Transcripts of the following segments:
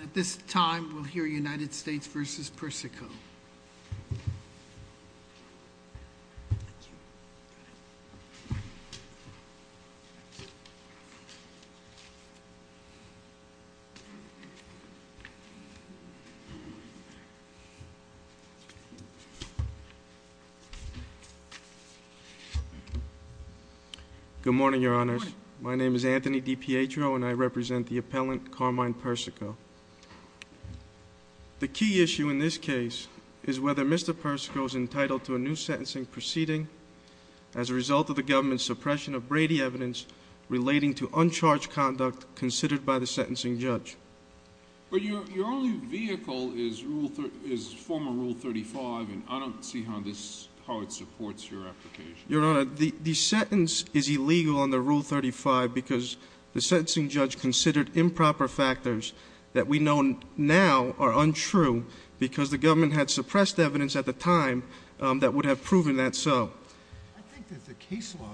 At this time, we'll hear United States v. Persico. Good morning, your honors. My name is Anthony DiPietro and I represent the appellant Carmine Persico. The key issue in this case is whether Mr. Persico is entitled to a new sentencing proceeding as a result of the government's suppression of Brady evidence relating to uncharged conduct considered by the sentencing judge. But your only vehicle is former Rule 35 and I don't see how it supports your application. Your honor, the sentence is illegal under Rule 35 because the sentencing judge considered improper factors that we know now are untrue because the government had suppressed evidence at the time that would have proven that so. I think that the case law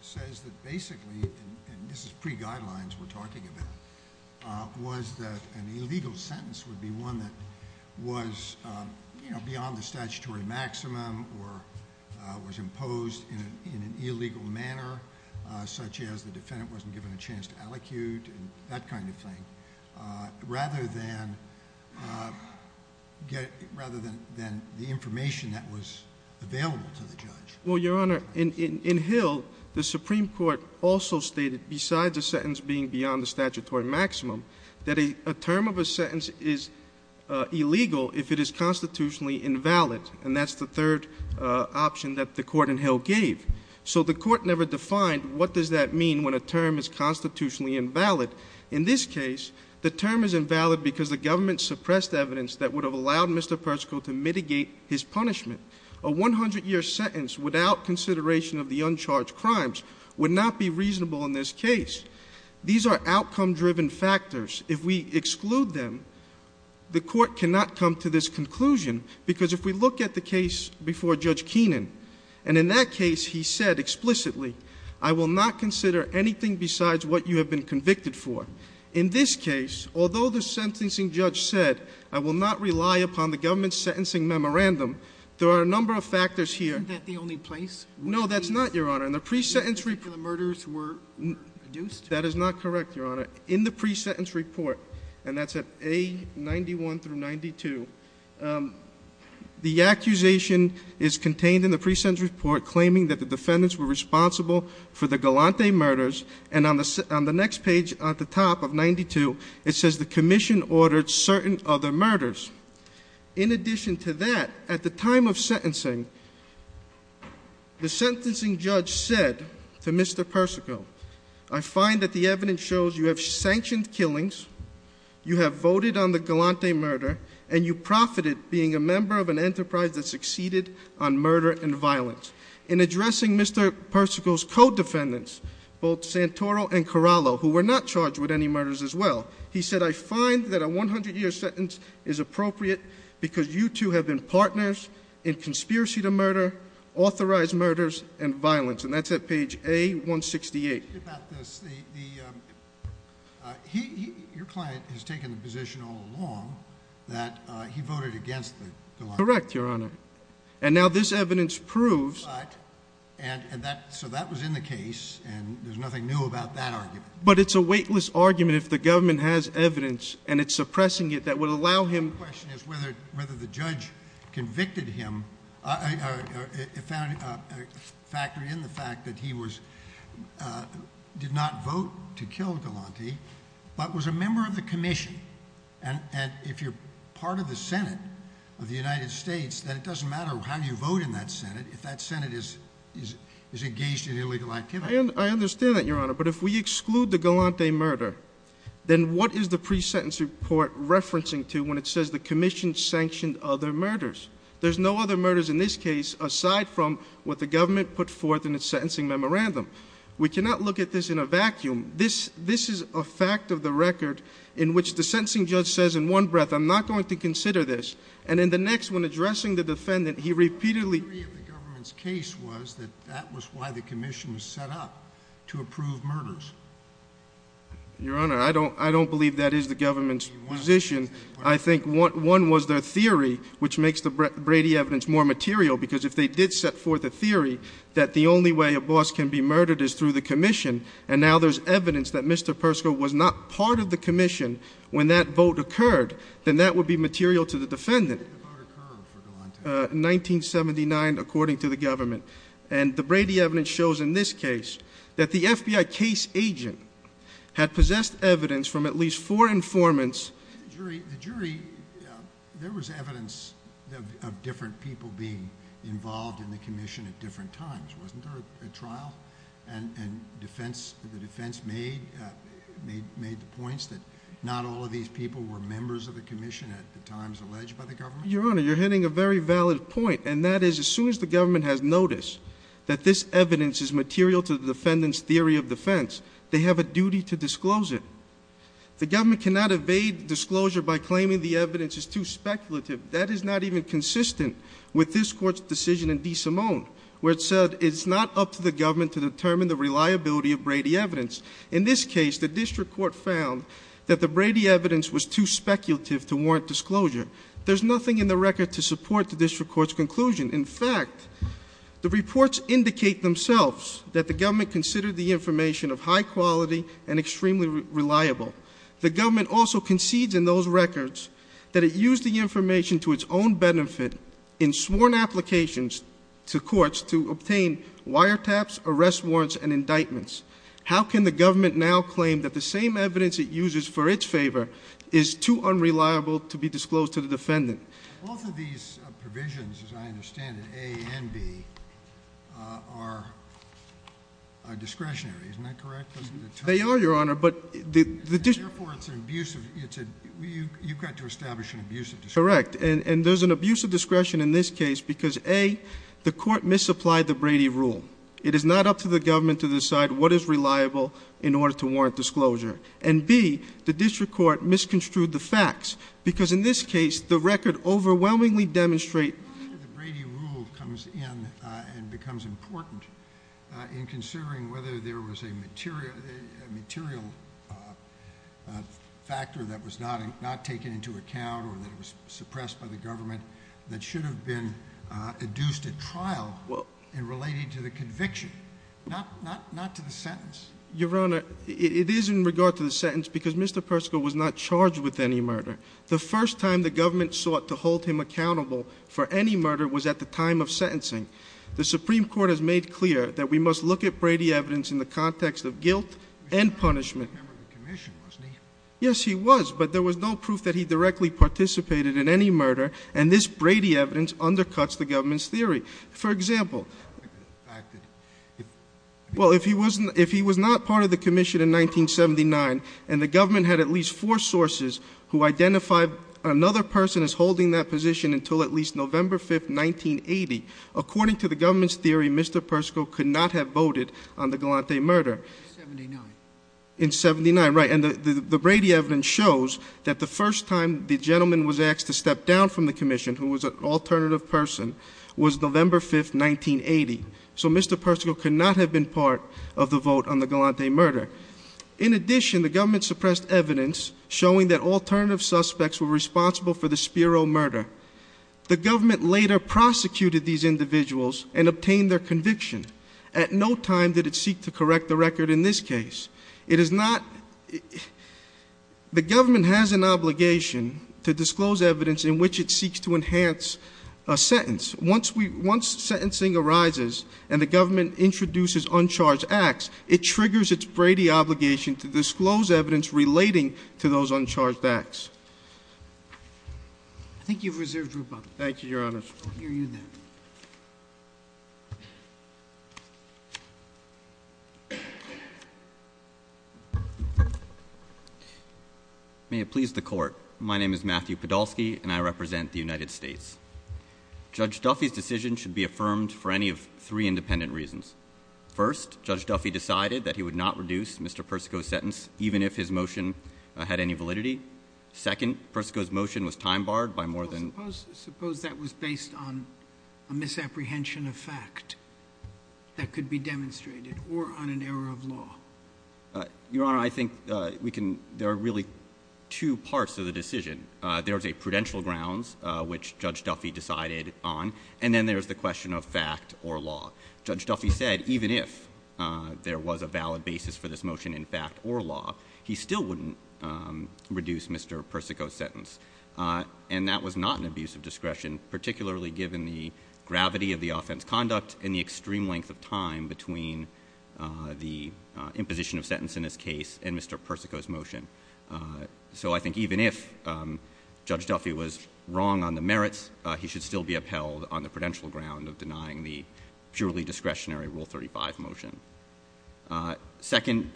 says that basically, and this is pre-guidelines we're talking about, was that an illegal sentence would be one that was, you know, beyond the statutory maximum or was imposed in an illegal manner such as the defendant wasn't given a chance to allocute and that kind of thing, rather than the information that was available to the judge. Well, your honor, in Hill, the Supreme Court also stated, besides the sentence being beyond the statutory maximum, that a term of a sentence is illegal if it is constitutionally invalid and that's the third option that the court in Hill gave. So the court never defined what does that mean when a term is constitutionally invalid. In this case, the term is invalid because the government suppressed evidence that would have allowed Mr. Persico to mitigate his punishment. A 100 year sentence without consideration of the uncharged crimes would not be reasonable in this case. These are outcome driven factors. If we exclude them, the court cannot come to this conclusion because if we look at the case before Judge Keenan, and in that case, he said explicitly, I will not consider anything besides what you have been convicted for. In this case, although the sentencing judge said, I will not rely upon the government's sentencing memorandum, there are a number of factors here. Isn't that the only place? No, that's not, your honor. In the pre-sentence report. Where the murders were reduced? That is not correct, your honor. In the pre-sentence report, and that's at A91 through 92, the accusation is contained in the pre-sentence report claiming that the defendants were responsible for the Galante murders. And on the next page at the top of 92, it says the commission ordered certain other murders. In addition to that, at the time of sentencing, the sentencing judge said to Mr. Persico, I find that the evidence shows you have sanctioned killings, you have voted on the Galante murder, and you profited being a member of an enterprise that succeeded on murder and violence. In addressing Mr. Persico's co-defendants, both Santoro and Corallo, who were not charged with any murders as well, he said I find that a 100 year sentence is appropriate because you two have been partners in conspiracy to murder, authorized murders, and violence, and that's at page A168. About this, your client has taken the position all along that he voted against the Galante murder. Correct, your honor. And now this evidence proves- But, and that, so that was in the case, and there's nothing new about that argument. But it's a weightless argument if the government has evidence, and it's suppressing it, that would allow him- The question is whether the judge convicted him, factored in the fact that he did not vote to kill Galante, but was a member of the commission. And if you're part of the Senate of the United States, then it doesn't matter how you vote in that Senate if that Senate is engaged in illegal activity. I understand that, your honor, but if we exclude the Galante murder, then what is the pre-sentence report referencing to when it says the commission sanctioned other murders? There's no other murders in this case aside from what the government put forth in its sentencing memorandum. We cannot look at this in a vacuum. This is a fact of the record in which the sentencing judge says in one breath, I'm not going to consider this. And in the next, when addressing the defendant, he repeatedly- The theory of the government's case was that that was why the commission was set up to approve murders. Your honor, I don't believe that is the government's position. I think one was their theory, which makes the Brady evidence more material. Because if they did set forth a theory that the only way a boss can be murdered is through the commission, and now there's evidence that Mr. Persco was not part of the commission when that vote occurred, then that would be material to the defendant. When did the vote occur for Galante? 1979, according to the government. And the Brady evidence shows in this case that the FBI case agent had possessed evidence from at least four informants. The jury, there was evidence of different people being involved in the commission at different times. Wasn't there a trial? And the defense made the points that not all of these people were members of the commission at the times alleged by the government? Your honor, you're hitting a very valid point. And that is, as soon as the government has noticed that this evidence is material to the defendant's theory of defense, they have a duty to disclose it. The government cannot evade disclosure by claiming the evidence is too speculative. That is not even consistent with this court's decision in DeSimone, where it said it's not up to the government to determine the reliability of Brady evidence. In this case, the district court found that the Brady evidence was too speculative to warrant disclosure. There's nothing in the record to support the district court's conclusion. In fact, the reports indicate themselves that the government considered the information of high quality and extremely reliable. The government also concedes in those records that it used the information to its own benefit in sworn applications to courts to obtain wiretaps, arrest warrants, and indictments. How can the government now claim that the same evidence it uses for its favor is too unreliable to be disclosed to the defendant? Both of these provisions, as I understand it, A and B, are discretionary, isn't that correct? They are, your honor, but the- Therefore, it's an abuse of, you've got to establish an abuse of discretion. Correct, and there's an abuse of discretion in this case because A, the court misapplied the Brady rule. It is not up to the government to decide what is reliable in order to warrant disclosure. And B, the district court misconstrued the facts, because in this case, the record overwhelmingly demonstrate- The Brady rule comes in and becomes important in considering whether there was a material factor that was not taken into account or that was suppressed by the government that should have been adduced at trial and related to the conviction, not to the sentence. Your honor, it is in regard to the sentence because Mr. Persico was not charged with any murder. The first time the government sought to hold him accountable for any murder was at the time of sentencing. The Supreme Court has made clear that we must look at Brady evidence in the context of guilt and punishment. Remember the commission, wasn't he? Yes, he was, but there was no proof that he directly participated in any murder. And this Brady evidence undercuts the government's theory. For example, well, if he was not part of the commission in 1979 and the government had at least four sources who identified another person as holding that position until at least November 5th, 1980. According to the government's theory, Mr. Persico could not have voted on the Galante murder. In 79. 79, right, and the Brady evidence shows that the first time the gentleman was asked to step down from the commission, who was an alternative person, was November 5th, 1980. So Mr. Persico could not have been part of the vote on the Galante murder. In addition, the government suppressed evidence showing that alternative suspects were responsible for the Spiro murder. The government later prosecuted these individuals and obtained their conviction. At no time did it seek to correct the record in this case. It is not, the government has an obligation to disclose evidence in which it seeks to enhance a sentence. Once sentencing arises and the government introduces uncharged acts, it triggers its Brady obligation to disclose evidence relating to those uncharged acts. I think you've reserved your button. Thank you, Your Honor. I'll hear you then. May it please the court, my name is Matthew Podolsky and I represent the United States. Judge Duffy's decision should be affirmed for any of three independent reasons. First, Judge Duffy decided that he would not reduce Mr. Persico's sentence, even if his motion had any validity. Second, Persico's motion was time barred by more than- Suppose that was based on a misapprehension of fact that could be demonstrated, or on an error of law. Your Honor, I think we can, there are really two parts to the decision. There's a prudential grounds, which Judge Duffy decided on, and then there's the question of fact or law. Judge Duffy said, even if there was a valid basis for this motion in fact or law, and that was not an abuse of discretion, particularly given the gravity of the offense conduct and the extreme length of time between the imposition of sentence in this case and Mr. Persico's motion. So I think even if Judge Duffy was wrong on the merits, he should still be upheld on the prudential ground of denying the purely discretionary Rule 35 motion. Second,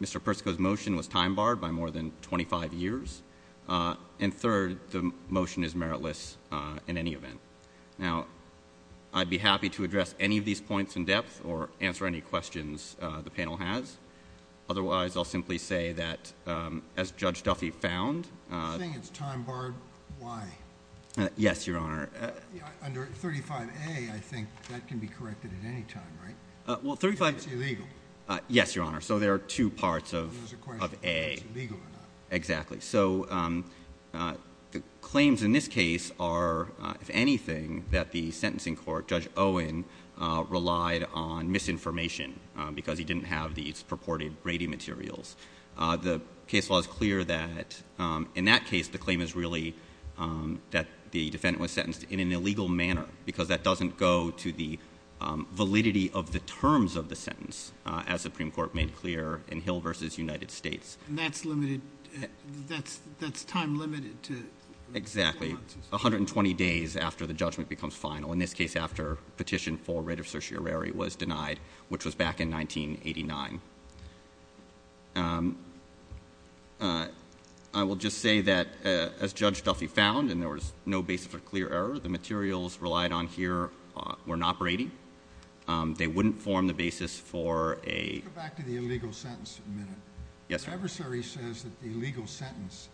Mr. Persico's motion was time barred by more than 25 years. And third, the motion is meritless in any event. Now, I'd be happy to address any of these points in depth or answer any questions the panel has. Otherwise, I'll simply say that, as Judge Duffy found- You're saying it's time barred, why? Yes, Your Honor. Under 35A, I think that can be corrected at any time, right? Well, 35- If it's illegal. Yes, Your Honor. So there are two parts of A. There's a question of if it's illegal or not. Exactly, so the claims in this case are, if anything, that the sentencing court, Judge Owen, relied on misinformation because he didn't have these purported Brady materials. The case law is clear that in that case, the claim is really that the defendant was sentenced in an illegal manner. Because that doesn't go to the validity of the terms of the sentence, as Supreme Court made clear in Hill versus United States. And that's time limited to- Exactly, 120 days after the judgment becomes final. In this case, after petition for writ of certiorari was denied, which was back in 1989. I will just say that, as Judge Duffy found, and there was no basis for clear error, the materials relied on here were not Brady, they wouldn't form the basis for a- Yes, sir. The adversary says that the illegal sentence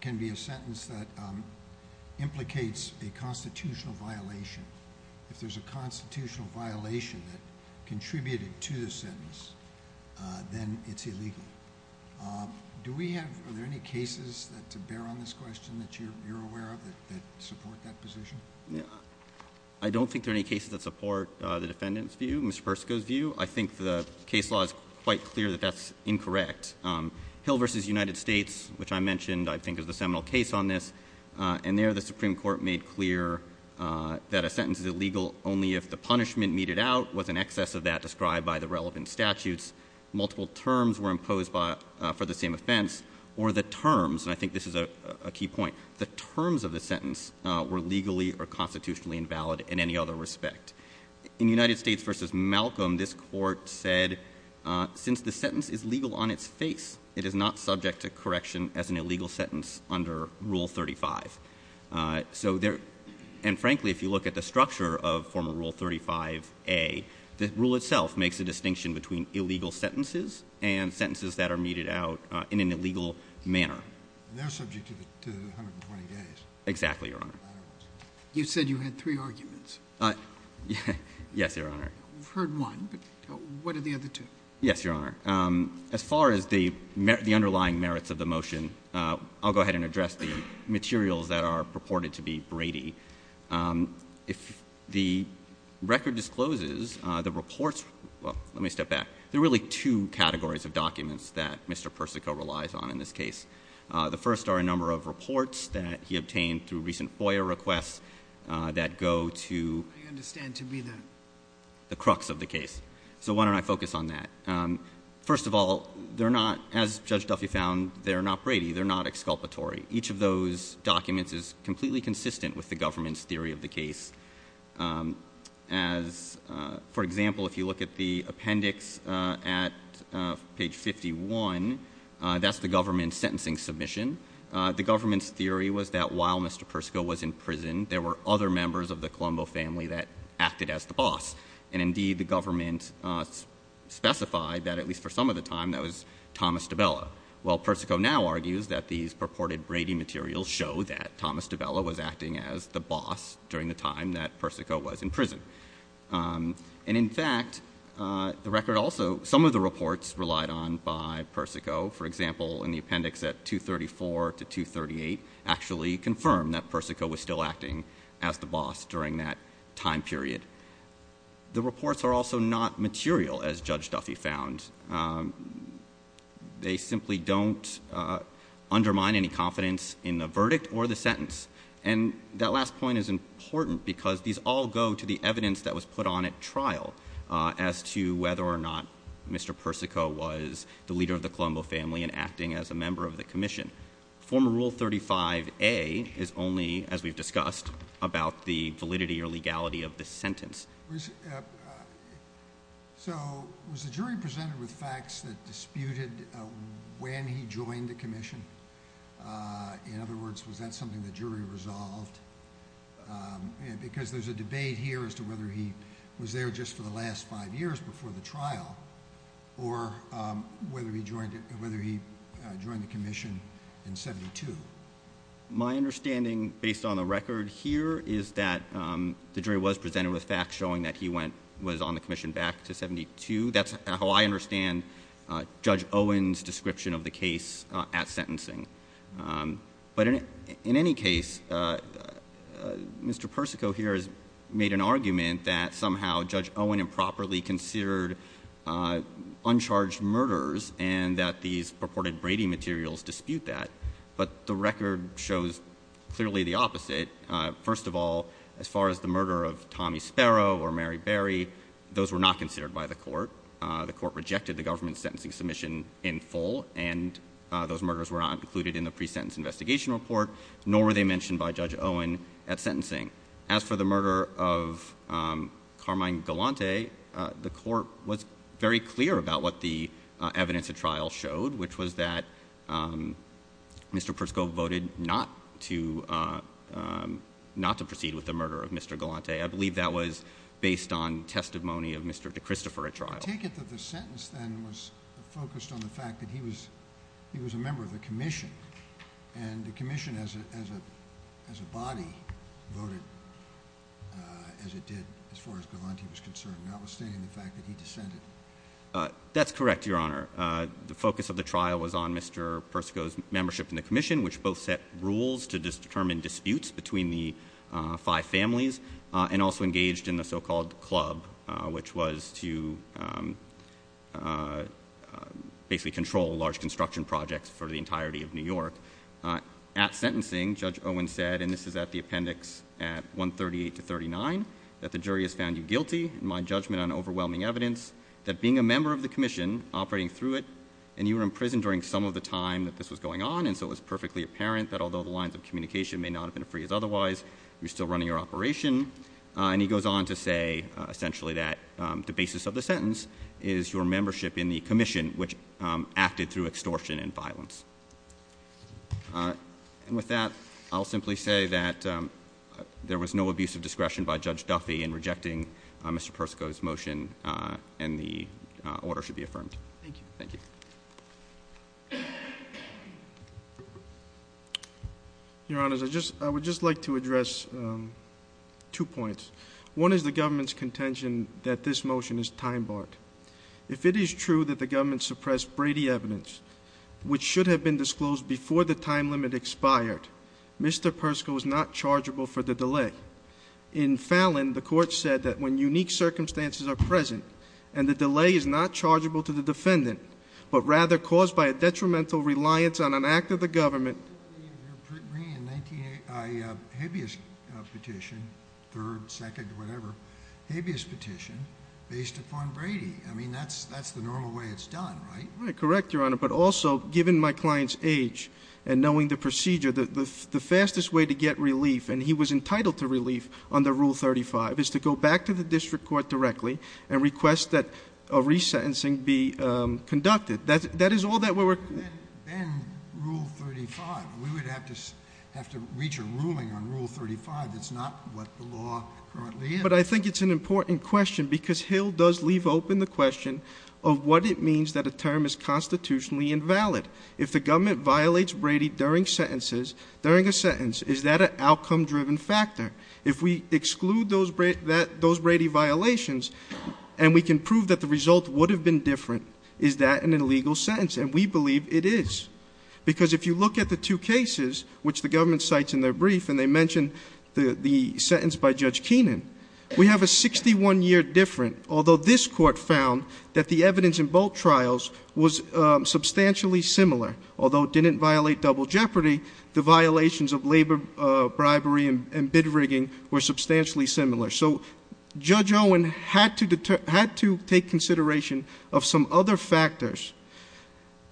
can be a sentence that implicates a constitutional violation. If there's a constitutional violation that contributed to the sentence, then it's illegal. Do we have, are there any cases to bear on this question that you're aware of that support that position? Yeah, I don't think there are any cases that support the defendant's view, Mr. Persico's view. I think the case law is quite clear that that's incorrect. Hill versus United States, which I mentioned, I think is the seminal case on this. And there, the Supreme Court made clear that a sentence is illegal only if the punishment meted out was in excess of that described by the relevant statutes. Multiple terms were imposed for the same offense, or the terms, and I think this is a key point, the terms of the sentence were legally or constitutionally invalid in any other respect. In United States versus Malcolm, this court said, since the sentence is legal on its face, it is not subject to correction as an illegal sentence under Rule 35. So there, and frankly, if you look at the structure of former Rule 35A, the rule itself makes a distinction between illegal sentences and sentences that are meted out in an illegal manner. They're subject to the 120 days. Exactly, Your Honor. You said you had three arguments. Yes, Your Honor. I've heard one, but what are the other two? Yes, Your Honor. As far as the underlying merits of the motion, I'll go ahead and address the materials that are purported to be Brady. If the record discloses the reports, well, let me step back. There are really two categories of documents that Mr. Persico relies on in this case. The first are a number of reports that he obtained through recent FOIA requests that go to- I understand to be the- The crux of the case. So why don't I focus on that? First of all, they're not, as Judge Duffy found, they're not Brady. They're not exculpatory. Each of those documents is completely consistent with the government's theory of the case. As, for example, if you look at the appendix at page 51, that's the government's sentencing submission. The government's theory was that while Mr. Persico was in prison, there were other members of the Colombo family that acted as the boss. And indeed, the government specified that, at least for some of the time, that was Thomas DiBella. While Persico now argues that these purported Brady materials show that Thomas DiBella was acting as the boss during the time that Persico was in prison. And in fact, the record also, some of the reports relied on by Persico, for example, in the appendix at 234 to 238, actually confirmed that Persico was still acting as the boss during that time period. The reports are also not material, as Judge Duffy found. They simply don't undermine any confidence in the verdict or the sentence. And that last point is important, because these all go to the evidence that was put on at trial as to whether or not Mr. Persico was the leader of the Colombo family and acting as a member of the commission. Former Rule 35A is only, as we've discussed, about the validity or legality of the sentence. So, was the jury presented with facts that disputed when he joined the commission? In other words, was that something the jury resolved? Because there's a debate here as to whether he was there just for the last five years before the trial. Or whether he joined the commission in 72. My understanding, based on the record here, is that the jury was presented with facts showing that he was on the commission back to 72. That's how I understand Judge Owen's description of the case at sentencing. But in any case, Mr. Persico here has made an argument that somehow, Judge Owen improperly considered uncharged murders and that these purported Brady materials dispute that. First of all, as far as the murder of Tommy Sparrow or Mary Berry, those were not considered by the court. The court rejected the government's sentencing submission in full, and those murders were not included in the pre-sentence investigation report, nor were they mentioned by Judge Owen at sentencing. As for the murder of Carmine Galante, the court was very clear about what the evidence at trial showed, which was that Mr. Persico voted not to proceed with the murder of Mr. Galante. I believe that was based on testimony of Mr. DeChristopher at trial. I take it that the sentence then was focused on the fact that he was a member of the commission. And the commission as a body voted as it did, as far as Galante was concerned, notwithstanding the fact that he dissented. That's correct, Your Honor. The focus of the trial was on Mr. Persico's membership in the commission, which both set rules to determine disputes between the five families, and also engaged in the so-called club, which was to basically control large construction projects for the entirety of New York. At sentencing, Judge Owen said, and this is at the appendix at 138 to 39, that the jury has found you guilty in my judgment on overwhelming evidence. That being a member of the commission, operating through it, and you were in prison during some of the time that this was going on, and so it was perfectly apparent that although the lines of communication may not have been as free as otherwise, you're still running your operation. And he goes on to say, essentially, that the basis of the sentence is your membership in the commission, which acted through extortion and violence. And with that, I'll simply say that there was no abuse of discretion by Judge Duffy in rejecting Mr. Persico's sentence, and the order should be affirmed. Thank you. Thank you. Your Honors, I would just like to address two points. One is the government's contention that this motion is time barred. If it is true that the government suppressed Brady evidence, which should have been disclosed before the time limit expired, Mr. Persico is not chargeable for the delay. In Fallon, the court said that when unique circumstances are present, and the delay is not chargeable to the defendant, but rather caused by a detrimental reliance on an act of the government. You're bringing a habeas petition, third, second, whatever. Habeas petition based upon Brady. I mean, that's the normal way it's done, right? Right, correct, Your Honor. But also, given my client's age and knowing the procedure, the fastest way to get relief, and he was entitled to relief under Rule 35, is to go back to the district court directly and request that a resentencing be conducted. That is all that we're- Then Rule 35, we would have to reach a ruling on Rule 35 that's not what the law currently is. But I think it's an important question, because Hill does leave open the question of what it means that a term is constitutionally invalid. If the government violates Brady during sentences, during a sentence, is that an outcome driven factor? If we exclude those Brady violations, and we can prove that the result would have been different, is that an illegal sentence? And we believe it is. Because if you look at the two cases, which the government cites in their brief, and they mention the sentence by Judge Keenan. We have a 61 year different, although this court found that the evidence in both trials was substantially similar, although it didn't violate double jeopardy. The violations of labor bribery and bid rigging were substantially similar. So Judge Owen had to take consideration of some other factors.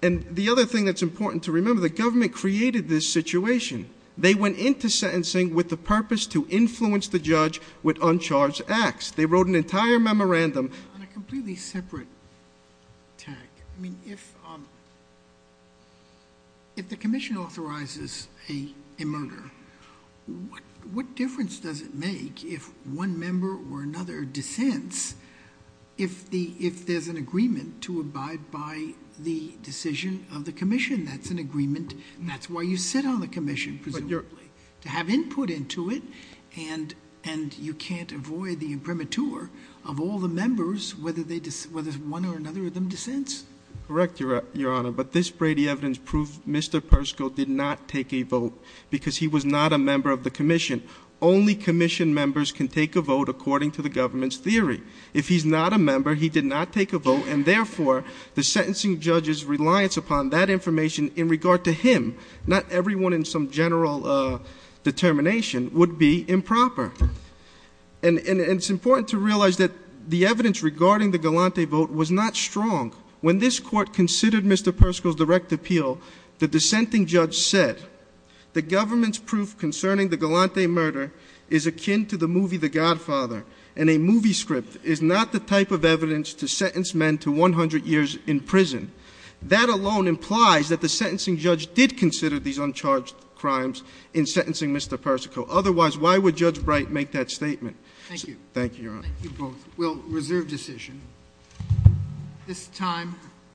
And the other thing that's important to remember, the government created this situation. They went into sentencing with the purpose to influence the judge with uncharged acts. They wrote an entire memorandum. On a completely separate tack, I mean, if the commission authorizes a murder, what difference does it make if one member or another dissents, if there's an agreement to abide by the decision of the commission? That's an agreement, and that's why you sit on the commission, presumably. To have input into it, and you can't avoid the imprimatur of all the members, whether one or another of them dissents. Correct, Your Honor, but this Brady evidence proved Mr. Persco did not take a vote because he was not a member of the commission. Only commission members can take a vote according to the government's theory. If he's not a member, he did not take a vote, and therefore, the sentencing judge's reliance upon that information in regard to him, not everyone in some general determination, would be improper. And it's important to realize that the evidence regarding the Galante vote was not strong. When this court considered Mr. Persco's direct appeal, the dissenting judge said, the government's proof concerning the Galante murder is akin to the movie The Godfather, and a movie script is not the type of evidence to sentence men to 100 years in prison. That alone implies that the sentencing judge did consider these uncharged crimes in sentencing Mr. Persico. Otherwise, why would Judge Bright make that statement? Thank you. Thank you, Your Honor. We'll reserve decision. This time.